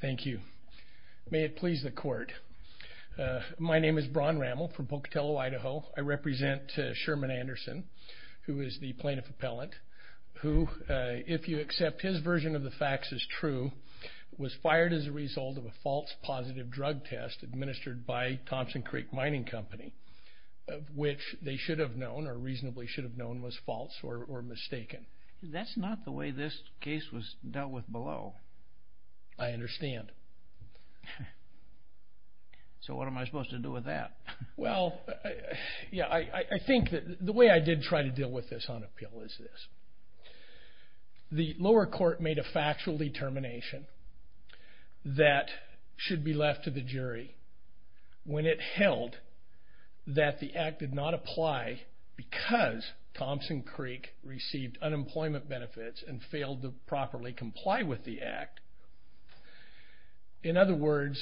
Thank you. May it please the court. My name is Bron Rammel from Pocatello, Idaho. I represent Sherman Anderson, who is the plaintiff appellant, who, if you accept his version of the facts as true, was fired as a result of a false positive drug test administered by Thompson Creek Mining Company, which they should have known or reasonably should have known was I understand. So what am I supposed to do with that? Well, yeah, I think that the way I did try to deal with this on appeal is this. The lower court made a factual determination that should be left to the jury when it held that the act did not apply because Thompson Creek received unemployment benefits and failed to properly comply with the act. In other words,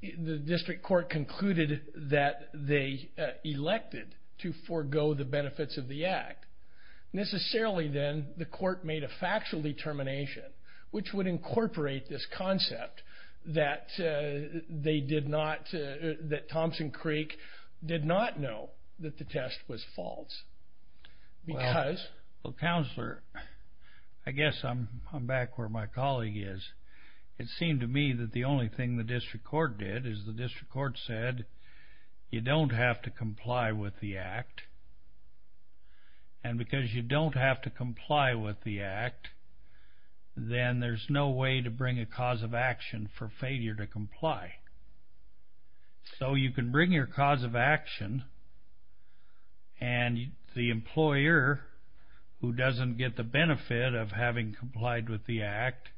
the district court concluded that they elected to forego the benefits of the act. Necessarily then, the court made a factual determination, which would incorporate this concept, that Thompson Creek did not know that the test was false. Well, Counselor, I guess I'm back where my colleague is. It seemed to me that the only thing the district court did is the district court said, you don't have to comply with the act, and because you don't have to comply with the act, then there's no way to bring a cause of action for failure to comply. So you can bring your cause of action and the employer, who doesn't get the benefit of having complied with the act,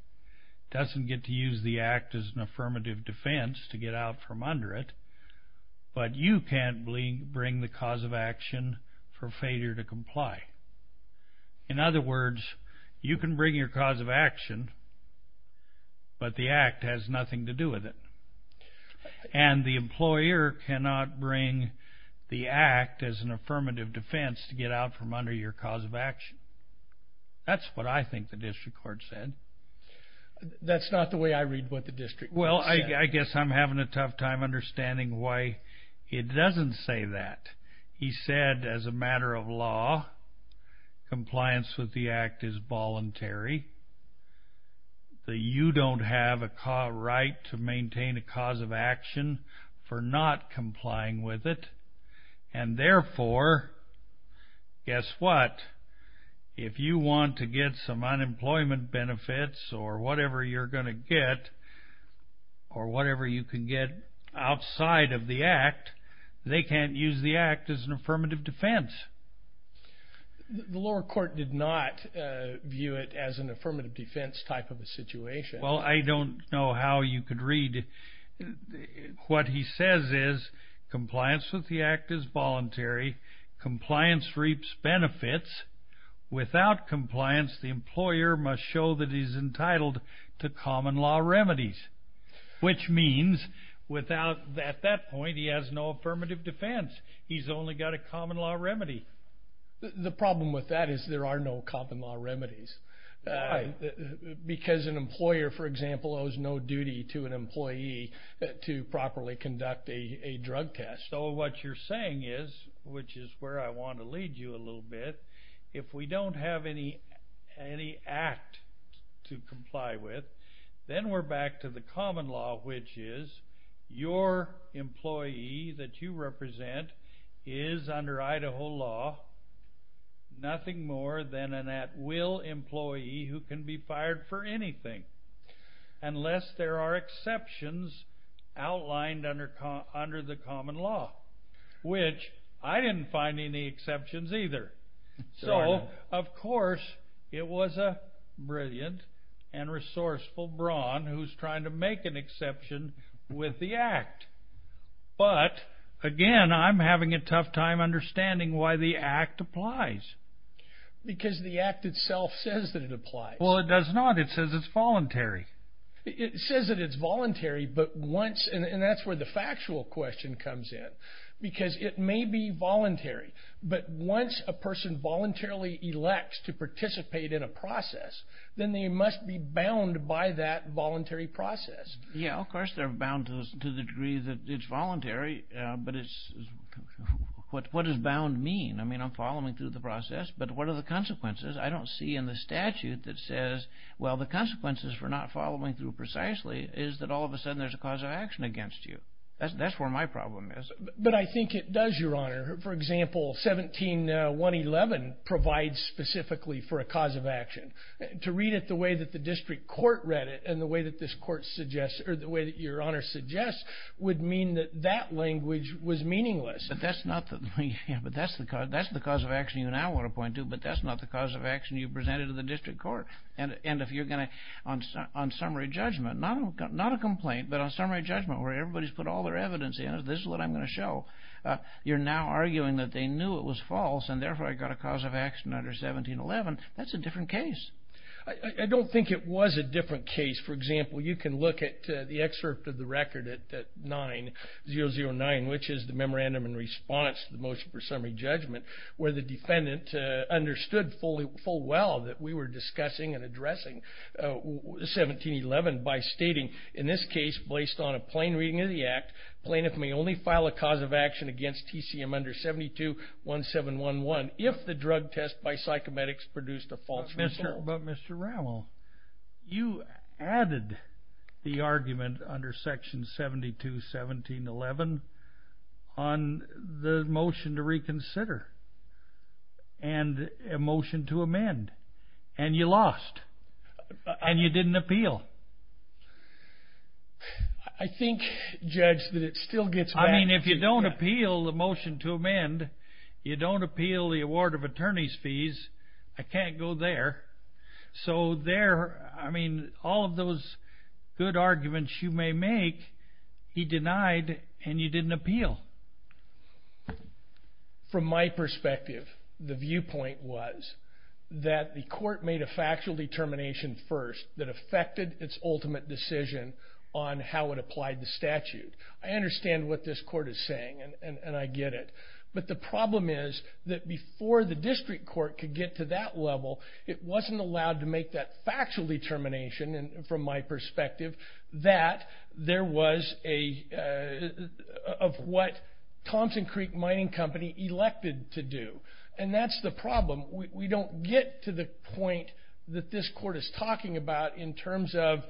doesn't get to use the act as an affirmative defense to get out from under it, but you can't bring the cause of action for failure to comply. In other words, you can bring your cause of action, but the act has nothing to do with it, and the employer cannot bring the act as an affirmative defense to get out from under your cause of action. That's what I think the district court said. That's not the way I read what the district court said. Well, I guess I'm having a tough time understanding why it doesn't say that. He said, as a matter of law, compliance with the act is voluntary. You don't have a right to maintain a cause of action for not complying with it, and therefore, guess what? If you want to get some unemployment benefits or whatever you're going to get, or whatever you can get outside of the act, they can't use the act as an affirmative defense. The lower court did not view it as an affirmative defense type of a situation. Well, I don't know how you could read it. What he says is, compliance with the act is voluntary. Compliance reaps benefits. Without compliance, the employer must show that he's entitled to at that point, he has no affirmative defense. He's only got a common law remedy. The problem with that is there are no common law remedies. Because an employer, for example, owes no duty to an employee to properly conduct a drug test. So what you're saying is, which is where I want to lead you a little bit, if we don't have any act to comply with, then we're back to the common law, which is your employee that you represent is, under Idaho law, nothing more than an at-will employee who can be fired for anything, unless there are exceptions outlined under the common law, which I didn't find any exceptions either. So, of course, it was a brilliant and resourceful brawn who's trying to make an exception with the act. But, again, I'm having a tough time understanding why the act applies. Because the act itself says that it applies. Well, it does not. It says it's voluntary. It says that it's voluntary, but once, and that's where the factual question comes in, because it may be voluntary, but once a person voluntarily elects to participate in a process, then they must be bound by that voluntary process. Yeah, of course, they're bound to the degree that it's voluntary, but what does bound mean? I mean, I'm following through the process, but what are the consequences? I don't see in the statute that says, well, the consequences for not following through precisely is that all of a But I think it does, Your Honor. For example, 17-111 provides specifically for a cause of action. To read it the way that the district court read it and the way that this court suggests, or the way that Your Honor suggests, would mean that that language was meaningless. But that's the cause of action you now want to point to, but that's not the cause of action you presented to the district court. And if you're going to, on summary judgment, not a complaint, but on summary judgment, where everybody's put all their evidence in it, this is what I'm going to show. You're now arguing that they knew it was false, and therefore I got a cause of action under 17-11. That's a different case. I don't think it was a different case. For example, you can look at the excerpt of the record at 9-009, which is the memorandum in response to the motion for summary judgment, where the defendant understood full well that we were discussing and addressing 17-11 by stating, in this case, based on a plain reading of the act, plaintiff may only file a cause of action against TCM under 72-1711 if the drug test by psychomedics produced a false result. But Mr. Rowell, you added the argument under section 72-1711 on the motion to reconsider and a motion to amend. And you lost. And you didn't appeal. I think, Judge, that it still gets back to you. I mean, if you don't appeal the motion to amend, you don't appeal the award of attorney's fees, I can't go there. So there, I mean, all of those good arguments you may make, he denied, and you didn't appeal. Well, from my perspective, the viewpoint was that the court made a factual determination first that affected its ultimate decision on how it applied the statute. I understand what this court is saying, and I get it. But the problem is that before the district court could get to that level, it wasn't allowed to make that factual determination, and from my perspective, that there was of what Thompson Creek Mining Company elected to do. And that's the problem. We don't get to the point that this court is talking about in terms of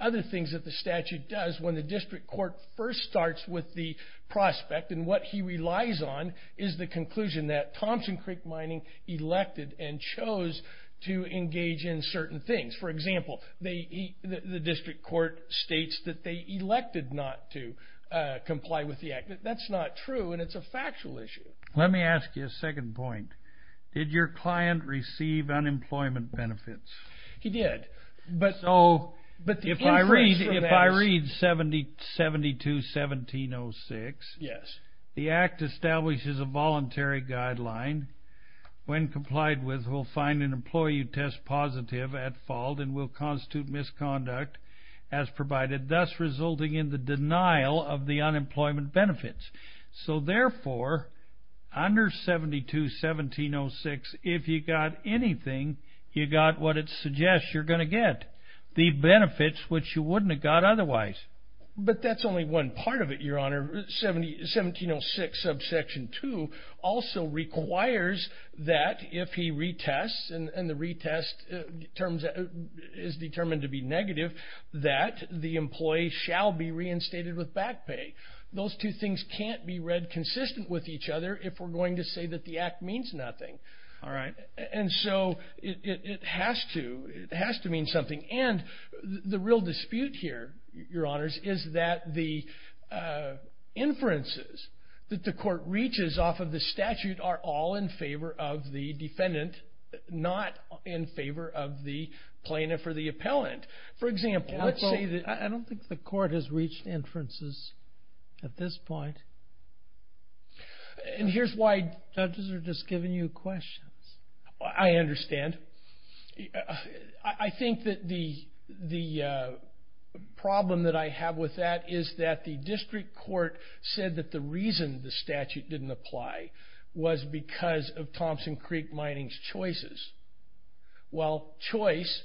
other things that the statute does when the district court first starts with the prospect, and what he relies on is the conclusion that Thompson Creek Mining elected and chose to engage in certain things. For example, the district court states that they elected not to comply with the act. That's not true, and it's a factual issue. Let me ask you a second point. Did your client receive unemployment benefits? He did, but the increase from that... If I read 72-1706, the act establishes a voluntary guideline. When complied with, we'll find an employee who tests positive at fault and will constitute misconduct as provided, thus resulting in the denial of the unemployment benefits. So therefore, under 72-1706, if you got anything, you got what it suggests you're going to get, the benefits which you wouldn't have got otherwise. But that's only one part of it, your honor. 1706 subsection 2 also requires that if he retests, and the retest is determined to be negative, that the employee shall be reinstated with back pay. Those two things can't be read consistent with each other if we're going to say that the act means nothing, and so it has to. It has to mean something, and the real dispute here, your honors, is that the inferences that the court reaches off of the statute are all in favor of the defendant, not in favor of the plaintiff or the appellant. For example, let's say that... I don't think the court has reached inferences at this point. And here's why judges are just giving you questions. I understand. I think that the problem that I have with that is that the district court said that the reason the statute didn't apply was because of Thompson Creek Mining's choices. Well, choice,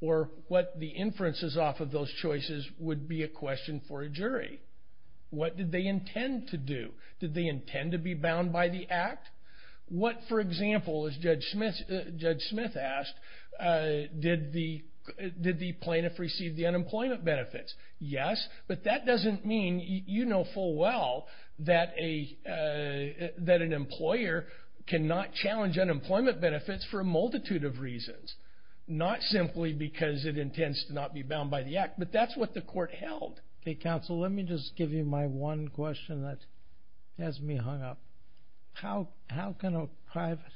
or what the inference is off of those choices, would be a question for a jury. What did they intend to do? Did they intend to be bound by the act? What, for example, as Judge Smith asked, did the plaintiff receive the unemployment benefits? Yes, but that doesn't mean you know full well that an employer cannot challenge unemployment benefits for a multitude of reasons. Not simply because it intends to not be bound by the act, but that's the court held. Okay, counsel, let me just give you my one question that has me hung up. How can a private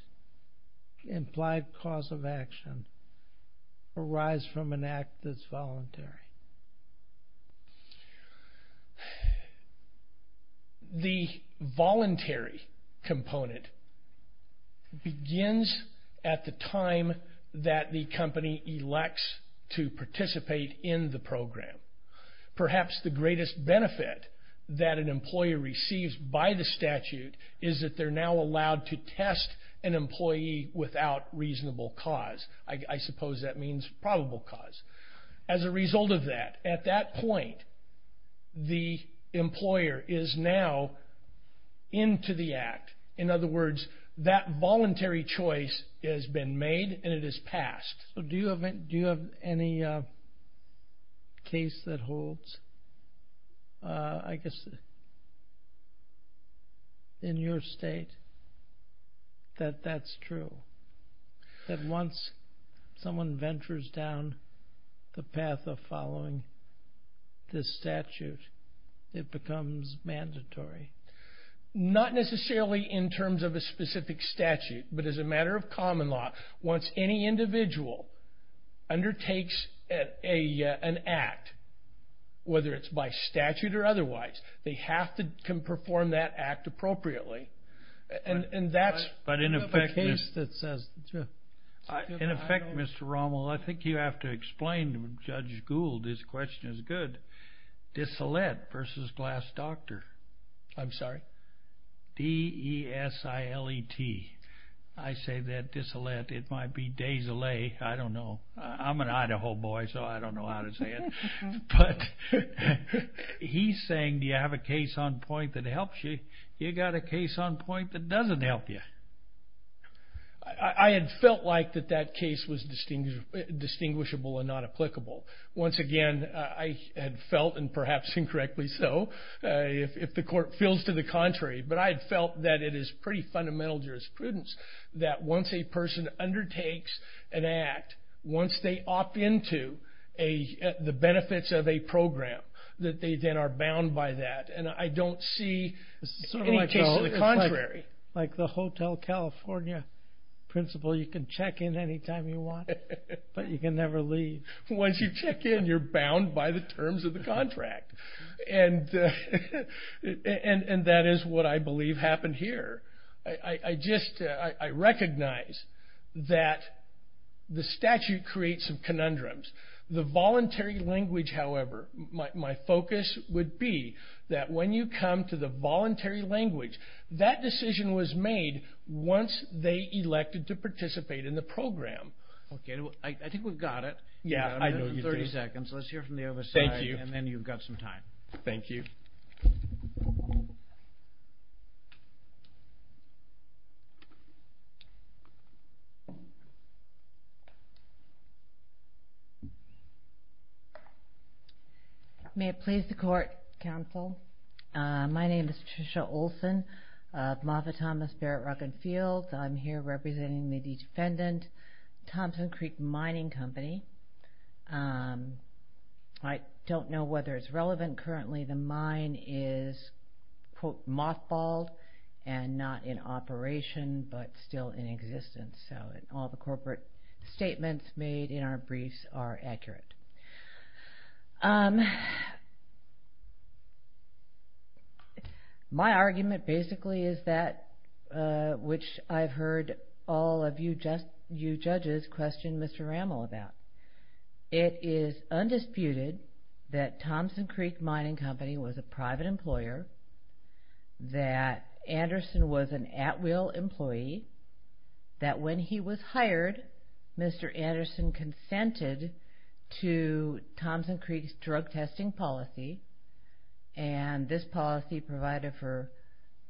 implied cause of action arise from an act that's voluntary? The voluntary component begins at the time that the company elects to participate in the program. Perhaps the greatest benefit that an employer receives by the statute is that they're now allowed to test an employee without reasonable cause. I suppose that means probable cause. As a result of that, at that point, the employer is now into the act. In other words, that voluntary choice has been made, and it has passed. Do you have any case that holds, I guess, in your state that that's true? That once someone ventures down the path of following this statute, it becomes mandatory? Not necessarily in terms of a specific statute, but as a matter of common law, once any individual undertakes an act, whether it's by statute or otherwise, they have to perform that act in accordance with the statute. In effect, Mr. Rommel, I think you have to explain, Judge Gould, this question is good. Desilet versus Glass Doctor. I'm sorry? D-E-S-I-L-E-T. I say that desilet. It might be desilet. I don't know. I'm an Idaho boy, so I don't know how to say it. He's saying, do you have a case on point that helps you? You got a case on point that doesn't help you. I had felt like that that case was distinguishable and not applicable. Once again, I had felt, and perhaps incorrectly so, if the court feels to the contrary, but I had felt that it is pretty fundamental jurisprudence that once a person undertakes an act, once they opt into the benefits of a program, that they then are bound by that. I don't see any case to the Hotel California principle. You can check in any time you want, but you can never leave. Once you check in, you're bound by the terms of the contract. That is what I believe happened here. I recognize that the statute creates some conundrums. The voluntary language, however, my focus would be that when you come to the voluntary language, that decision was made once they elected to participate in the program. I think we've got it. Yeah, I know you do. 30 seconds. Let's hear from the other side, and then you've got some time. May it please the court, counsel. My name is Tricia Olson of Moffitt Thomas Barrett Rock and Fields. I'm here representing the defendant, Thompson Creek Mining Company. I don't know whether it's relevant. Currently, the mine is, quote, mothballed and not in operation, but still in existence, so all the corporate statements made in our briefs are accurate. My argument, basically, is that which I've heard all of you judges question Mr. Rammel about. It is undisputed that Thompson Creek Mining Company was a private employer, that Anderson was an at-will employee, that when he was hired, Mr. Anderson consented to Thompson Creek's drug testing policy, and this policy provided for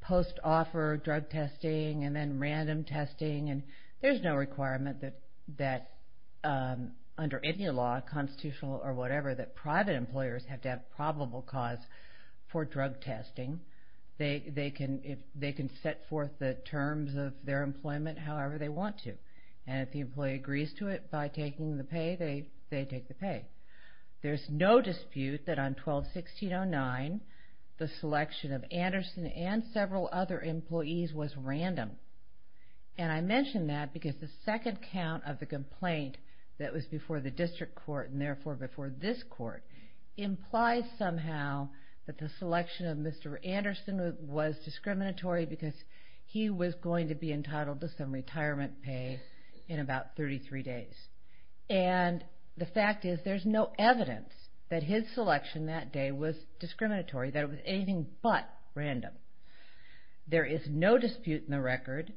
post-offer drug testing and then random testing. There's no requirement that under any law, constitutional or whatever, that private employers have to have probable cause for drug testing. They can set forth the terms of their employment however they want to, and if the employee agrees to it by taking the pay, they take the pay. There's no dispute that on 12-1609, the selection of Anderson and several other employees was random, and I mention that because the second count of the complaint that was before the district court, and therefore before this court, implies somehow that the selection of Mr. Anderson was discriminatory because he was going to be entitled to some retirement pay in about 33 days, and the fact is there's no evidence that his selection that day was discriminatory, that it was anything but random. There is no dispute in the record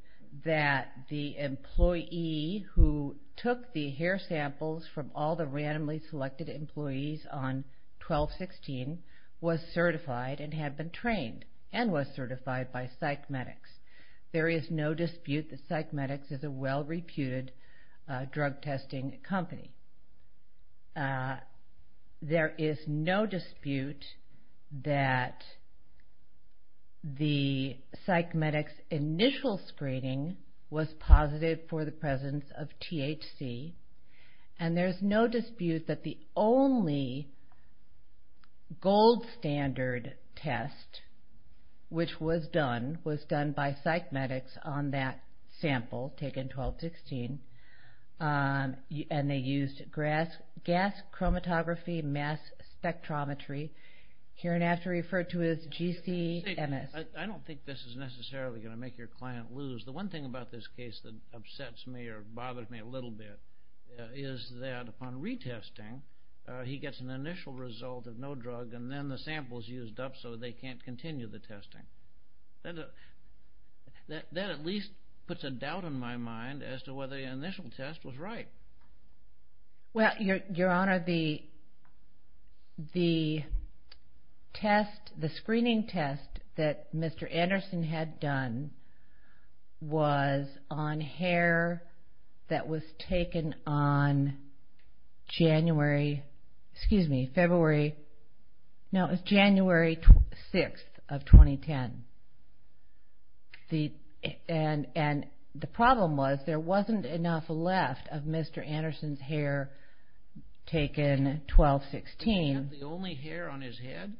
that the employee who took the hair samples from all the randomly selected employees on 12-16 was certified and had been trained and was certified by psych medics. There is no dispute that psych medics is a well-reputed drug testing company. There is no dispute that the psych medics initial screening was positive for the presence of THC, and there's no dispute that the only gold standard test, which was done, was done by psych medics on that sample taken 12-16, and they used gas chromatography mass spectrometry, here and after referred to as GCMS. I don't think this is necessarily going to make your client lose. The one thing about this case that upsets me or bothers me a little bit is that upon retesting, he gets an initial result of no drug and then the sample is used up so they can't continue the testing. That at least puts a doubt in my mind as to whether the initial test was right. Well, your honor, the screening test that hair that was taken on January, excuse me, February, no, it's January 6th of 2010. The problem was there wasn't enough left of Mr. Anderson's hair taken 12-16. He had the only hair on his head,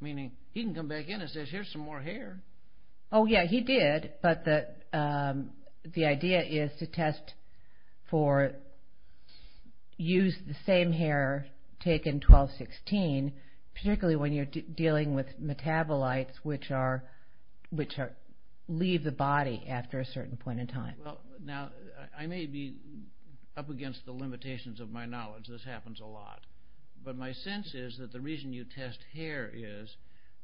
meaning he can come back in and say here's some hair. Oh yeah, he did, but the idea is to use the same hair taken 12-16, particularly when you're dealing with metabolites which leave the body after a certain point in time. Now, I may be up against the limitations of my knowledge. This happens a lot, but my sense is that the reason you test hair is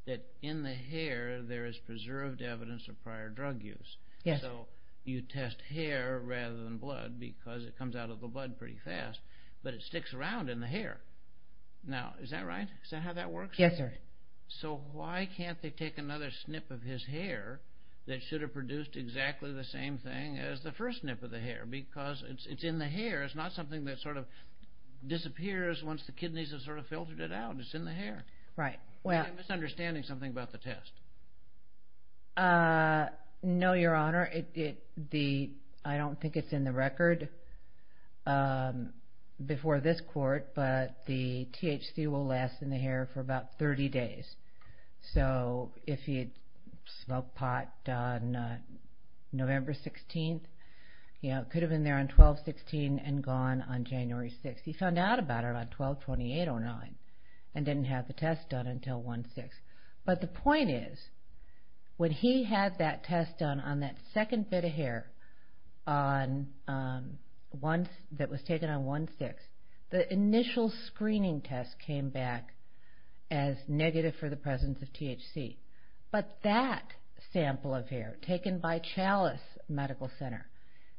that in the hair there is preserved evidence of prior drug use. So you test hair rather than blood because it comes out of the blood pretty fast, but it sticks around in the hair. Now, is that right? Is that how that works? Yes, sir. So why can't they take another snip of his hair that should have produced exactly the same thing as the first snip of the hair because it's in the hair. It's not something that sort of disappears once the kidneys have sort of Right. Well, I'm misunderstanding something about the test. No, your honor. I don't think it's in the record before this court, but the THC will last in the hair for about 30 days. So if he had smoked pot on November 16th, it could have been there on 12-16 and gone on January 6th. He found out about it on 12-28-09 and didn't have the test done until 1-6. But the point is, when he had that test done on that second bit of hair that was taken on 1-6, the initial screening test came back as negative for the presence of THC. But that sample of hair taken by Chalice Medical Center,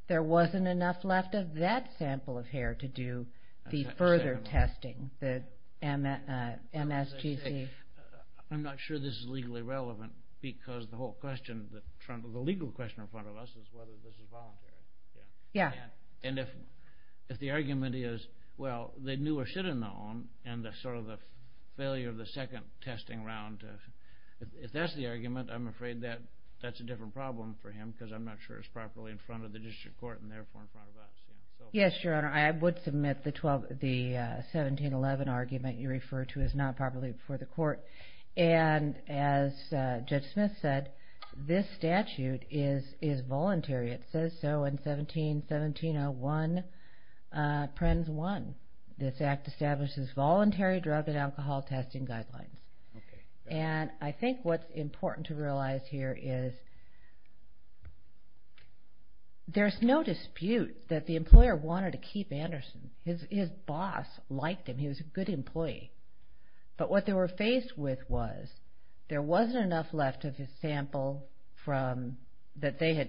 there wasn't enough left of that sample of hair to do the further testing, the MSGC. I'm not sure this is legally relevant because the legal question in front of us is whether this is voluntary. Yeah. And if the argument is, well, they knew or should have known, and that's sort of the failure of the second testing round. If that's the argument, I'm afraid that that's a different problem for him because I'm not sure it's properly in front of the district court and therefore in front of us. Yes, Your Honor. I would submit the 17-11 argument you refer to as not properly before the court. And as Judge Smith said, this statute is voluntary. It says so in 17-17-01, Prenn's 1. This act establishes voluntary drug and alcohol testing guidelines. And I think what's important to realize here is there's no dispute that the employer wanted to keep Anderson. His boss liked him. He was a good employee. But what they were faced with was there wasn't enough left of his sample that they had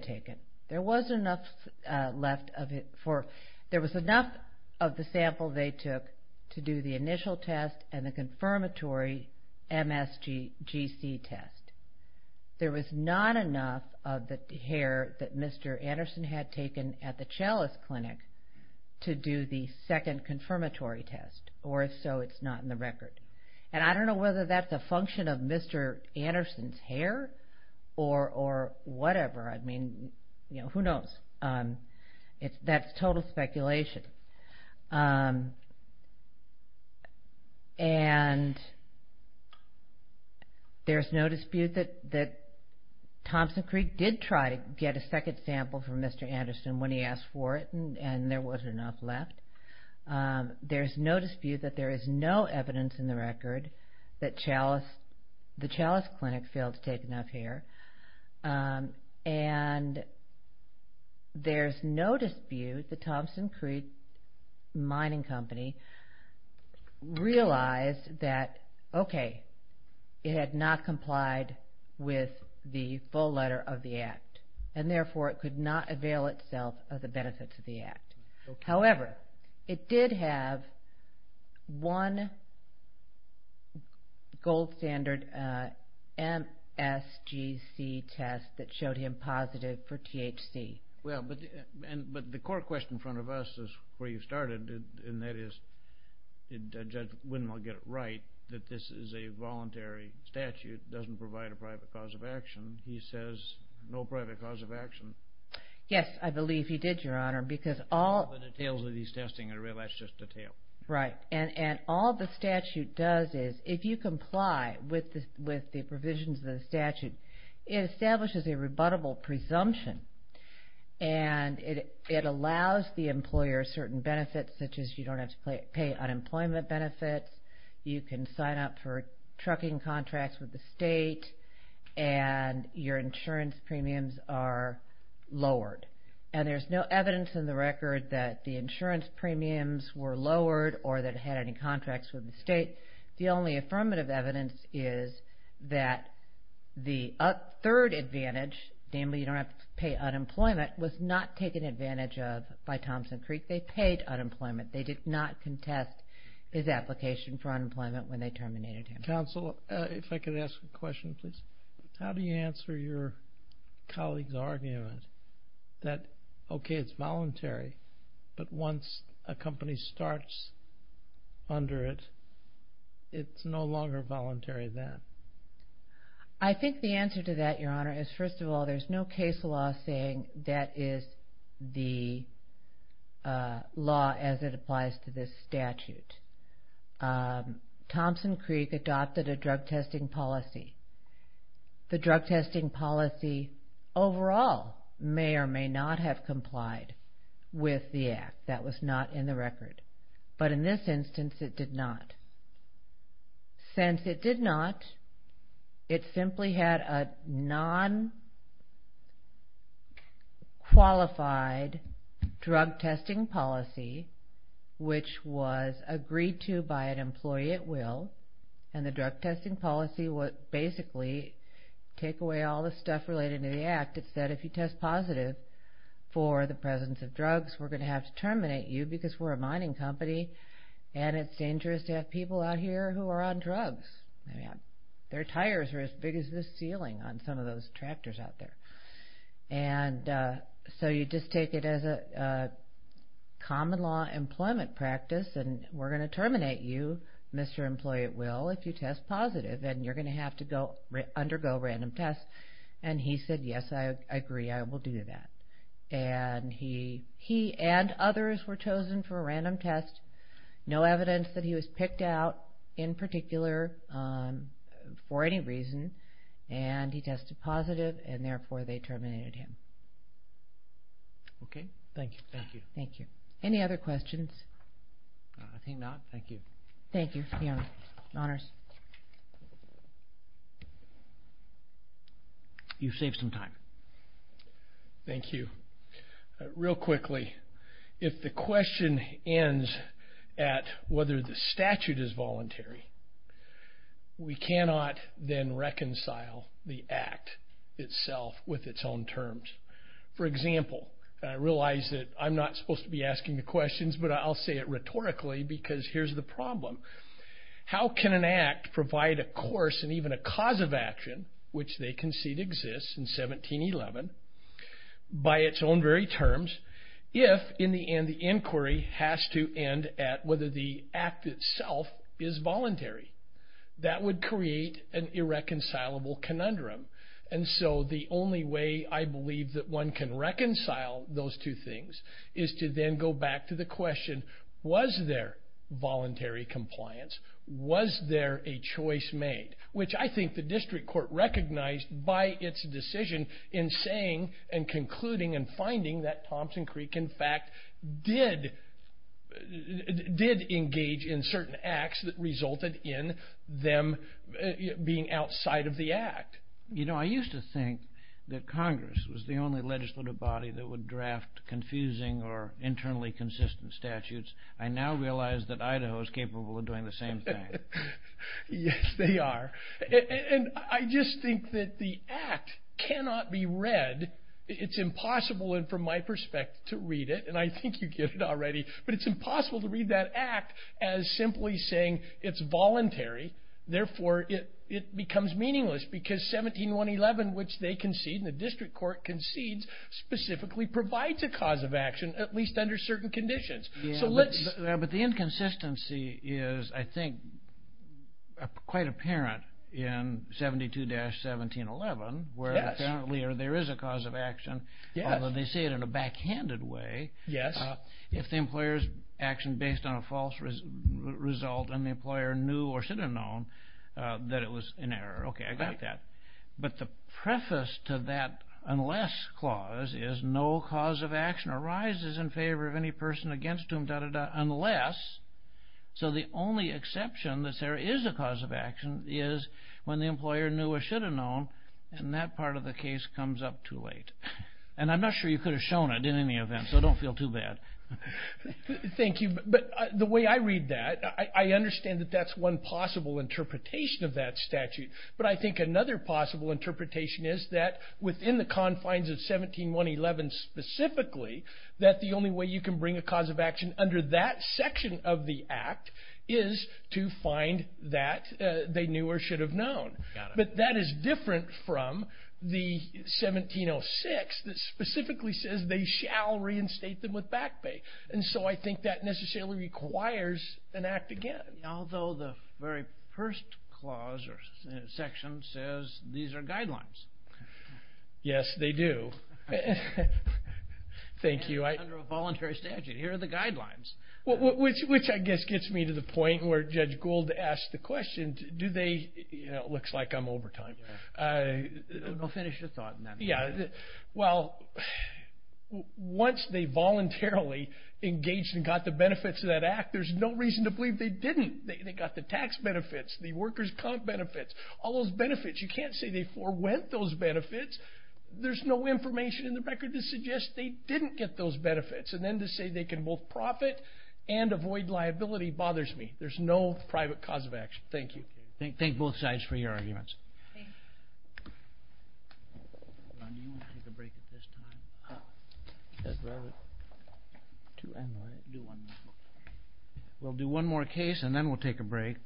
and the confirmatory MSG test. There was not enough of the hair that Mr. Anderson had taken at the Chalice Clinic to do the second confirmatory test, or so it's not in the record. And I don't know whether that's a function of Mr. Anderson's hair or whatever. I mean, who knows? That's total speculation. And there's no dispute that Thompson Creek did try to get a second sample from Mr. Anderson when he asked for it, and there wasn't enough left. There's no dispute that there is no evidence in the record that the Chalice Clinic failed to take enough hair. And there's no dispute that Thompson Creek Mining Company realized that, okay, it had not complied with the full letter of the act, and therefore it could not avail itself of the benefits of the act. However, it did have one gold standard MSGC test that showed him positive for THC. Well, but the court question in front of us is where you started, and that is, Judge Wynne will get it right, that this is a voluntary statute. It doesn't provide a private cause of action. He says no private cause of action. Yes, I believe he did, Your Honor, because all... All the details of these testing, I realize, is just a tale. Right. And all the statute does is, if you comply with the provisions of the statute, it establishes a rebuttable presumption, and it allows the employer certain benefits, such as you don't have to pay unemployment benefits, you can sign up for trucking contracts with the state, and your insurance premiums are lowered. And there's no evidence in the record that the insurance premiums were lowered or that it had any contracts with the state. The only affirmative evidence is that the third advantage, namely you don't have to pay unemployment, was not taken advantage of by Thompson Creek. They paid unemployment. They did not contest his application for unemployment when they terminated him. Counsel, if I could ask a question, please. How do you answer your colleague's argument that, okay, it's voluntary, but once a company starts under it, it's no longer voluntary then? I think the answer to that, Your Honor, is, first of all, there's no case law saying that is the law as it applies to this statute. Thompson Creek adopted a drug testing policy. The drug testing policy, overall, may or may not have complied with the act. That was not in the record. But in this instance, it did not. Since it did not, it simply had a non-qualified drug testing policy, which was agreed to by an employee at will. And the drug testing policy would basically take away all the stuff related to the act. It said, if you test positive for the presence of drugs, we're going to have to terminate you because we're a mining company. And it's dangerous to have people out here who are on drugs. Their tires are as big as the ceiling on some of those tractors out there. And so you just take it as a common law employment practice and we're going to terminate you, Mr. Employee at will, if you test positive and you're going to have to undergo random tests. And he said, yes, I agree. I will do that. And he and others were chosen for a random test. No evidence that he was picked out in particular for any reason. And he tested positive and therefore they terminated him. Okay. Thank you. Thank you. Thank you. Any other questions? I think not. Thank you. Thank you. You've saved some time. Thank you. Real quickly, if the question ends at whether the statute is voluntary, we cannot then reconcile the act itself with its own terms. For example, I realize that I'm not supposed to be asking the questions, but I'll say it rhetorically because here's the problem. How can an act provide a course and even a cause of action, which they concede exists in 1711, by its own very terms, if in the end, the inquiry has to end at whether the act itself is voluntary? That would create an irreconcilable conundrum. And so the only way I believe that one can reconcile those two things is to then go back to the question, was there voluntary compliance? Was there a choice made? Which I think the district court recognized by its decision in saying and concluding and finding that Thompson Creek, in fact, did engage in certain acts that resulted in them being outside of the act. You know, I used to think that Congress was the only legislative body that would draft confusing or internally consistent statutes. I now realize that Idaho is capable of doing the same thing. Yes, they are. And I just think that the act cannot be read. It's impossible, and from my perspective, to read it. And I think you get it already. But it's impossible to read that act as simply saying it's voluntary. Therefore, it becomes meaningless because 1711, which they concede and the district court concedes, specifically provides a cause of action, at least under certain conditions. But the inconsistency is, I think, quite apparent in 72-1711, where there is a cause of action, although they say it in a backhanded way, if the employer's action based on a false result and the employer knew or should have known that it was an error. Okay, I got that. But the preface to that unless clause is, no cause of action arises in favor of any person against whom, unless. So the only exception that there is a cause of action is when the employer knew or should have known, and that part of the case comes up too late. And I'm not sure you could have shown it in any event, so don't feel too bad. Thank you. But the way I read that, I understand that that's one possible interpretation of that statute. But I think another possible interpretation is that within the confines of 1711 specifically, that the only way you can bring a cause of action under that section of the act is to find that they knew or should have known. But that is different from the 1706 that specifically says they shall reinstate them with back pay. And so I think that necessarily requires an act again. Although the very first clause or section says these are guidelines. Yes, they do. Thank you. Under a voluntary statute, here are the guidelines. Which I guess gets me to the point where Judge Gould asked the question, do they, you know, it looks like I'm no reason to believe they didn't. They got the tax benefits, the workers' comp benefits, all those benefits. You can't say they forwent those benefits. There's no information in the record to suggest they didn't get those benefits. And then to say they can both profit and avoid liability bothers me. There's no private cause of action. Thank you. Thank both sides for your time. We'll do one more case and then we'll take a break.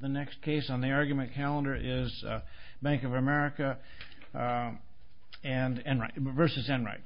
The next case on the argument calendar is Bank of America versus Enright.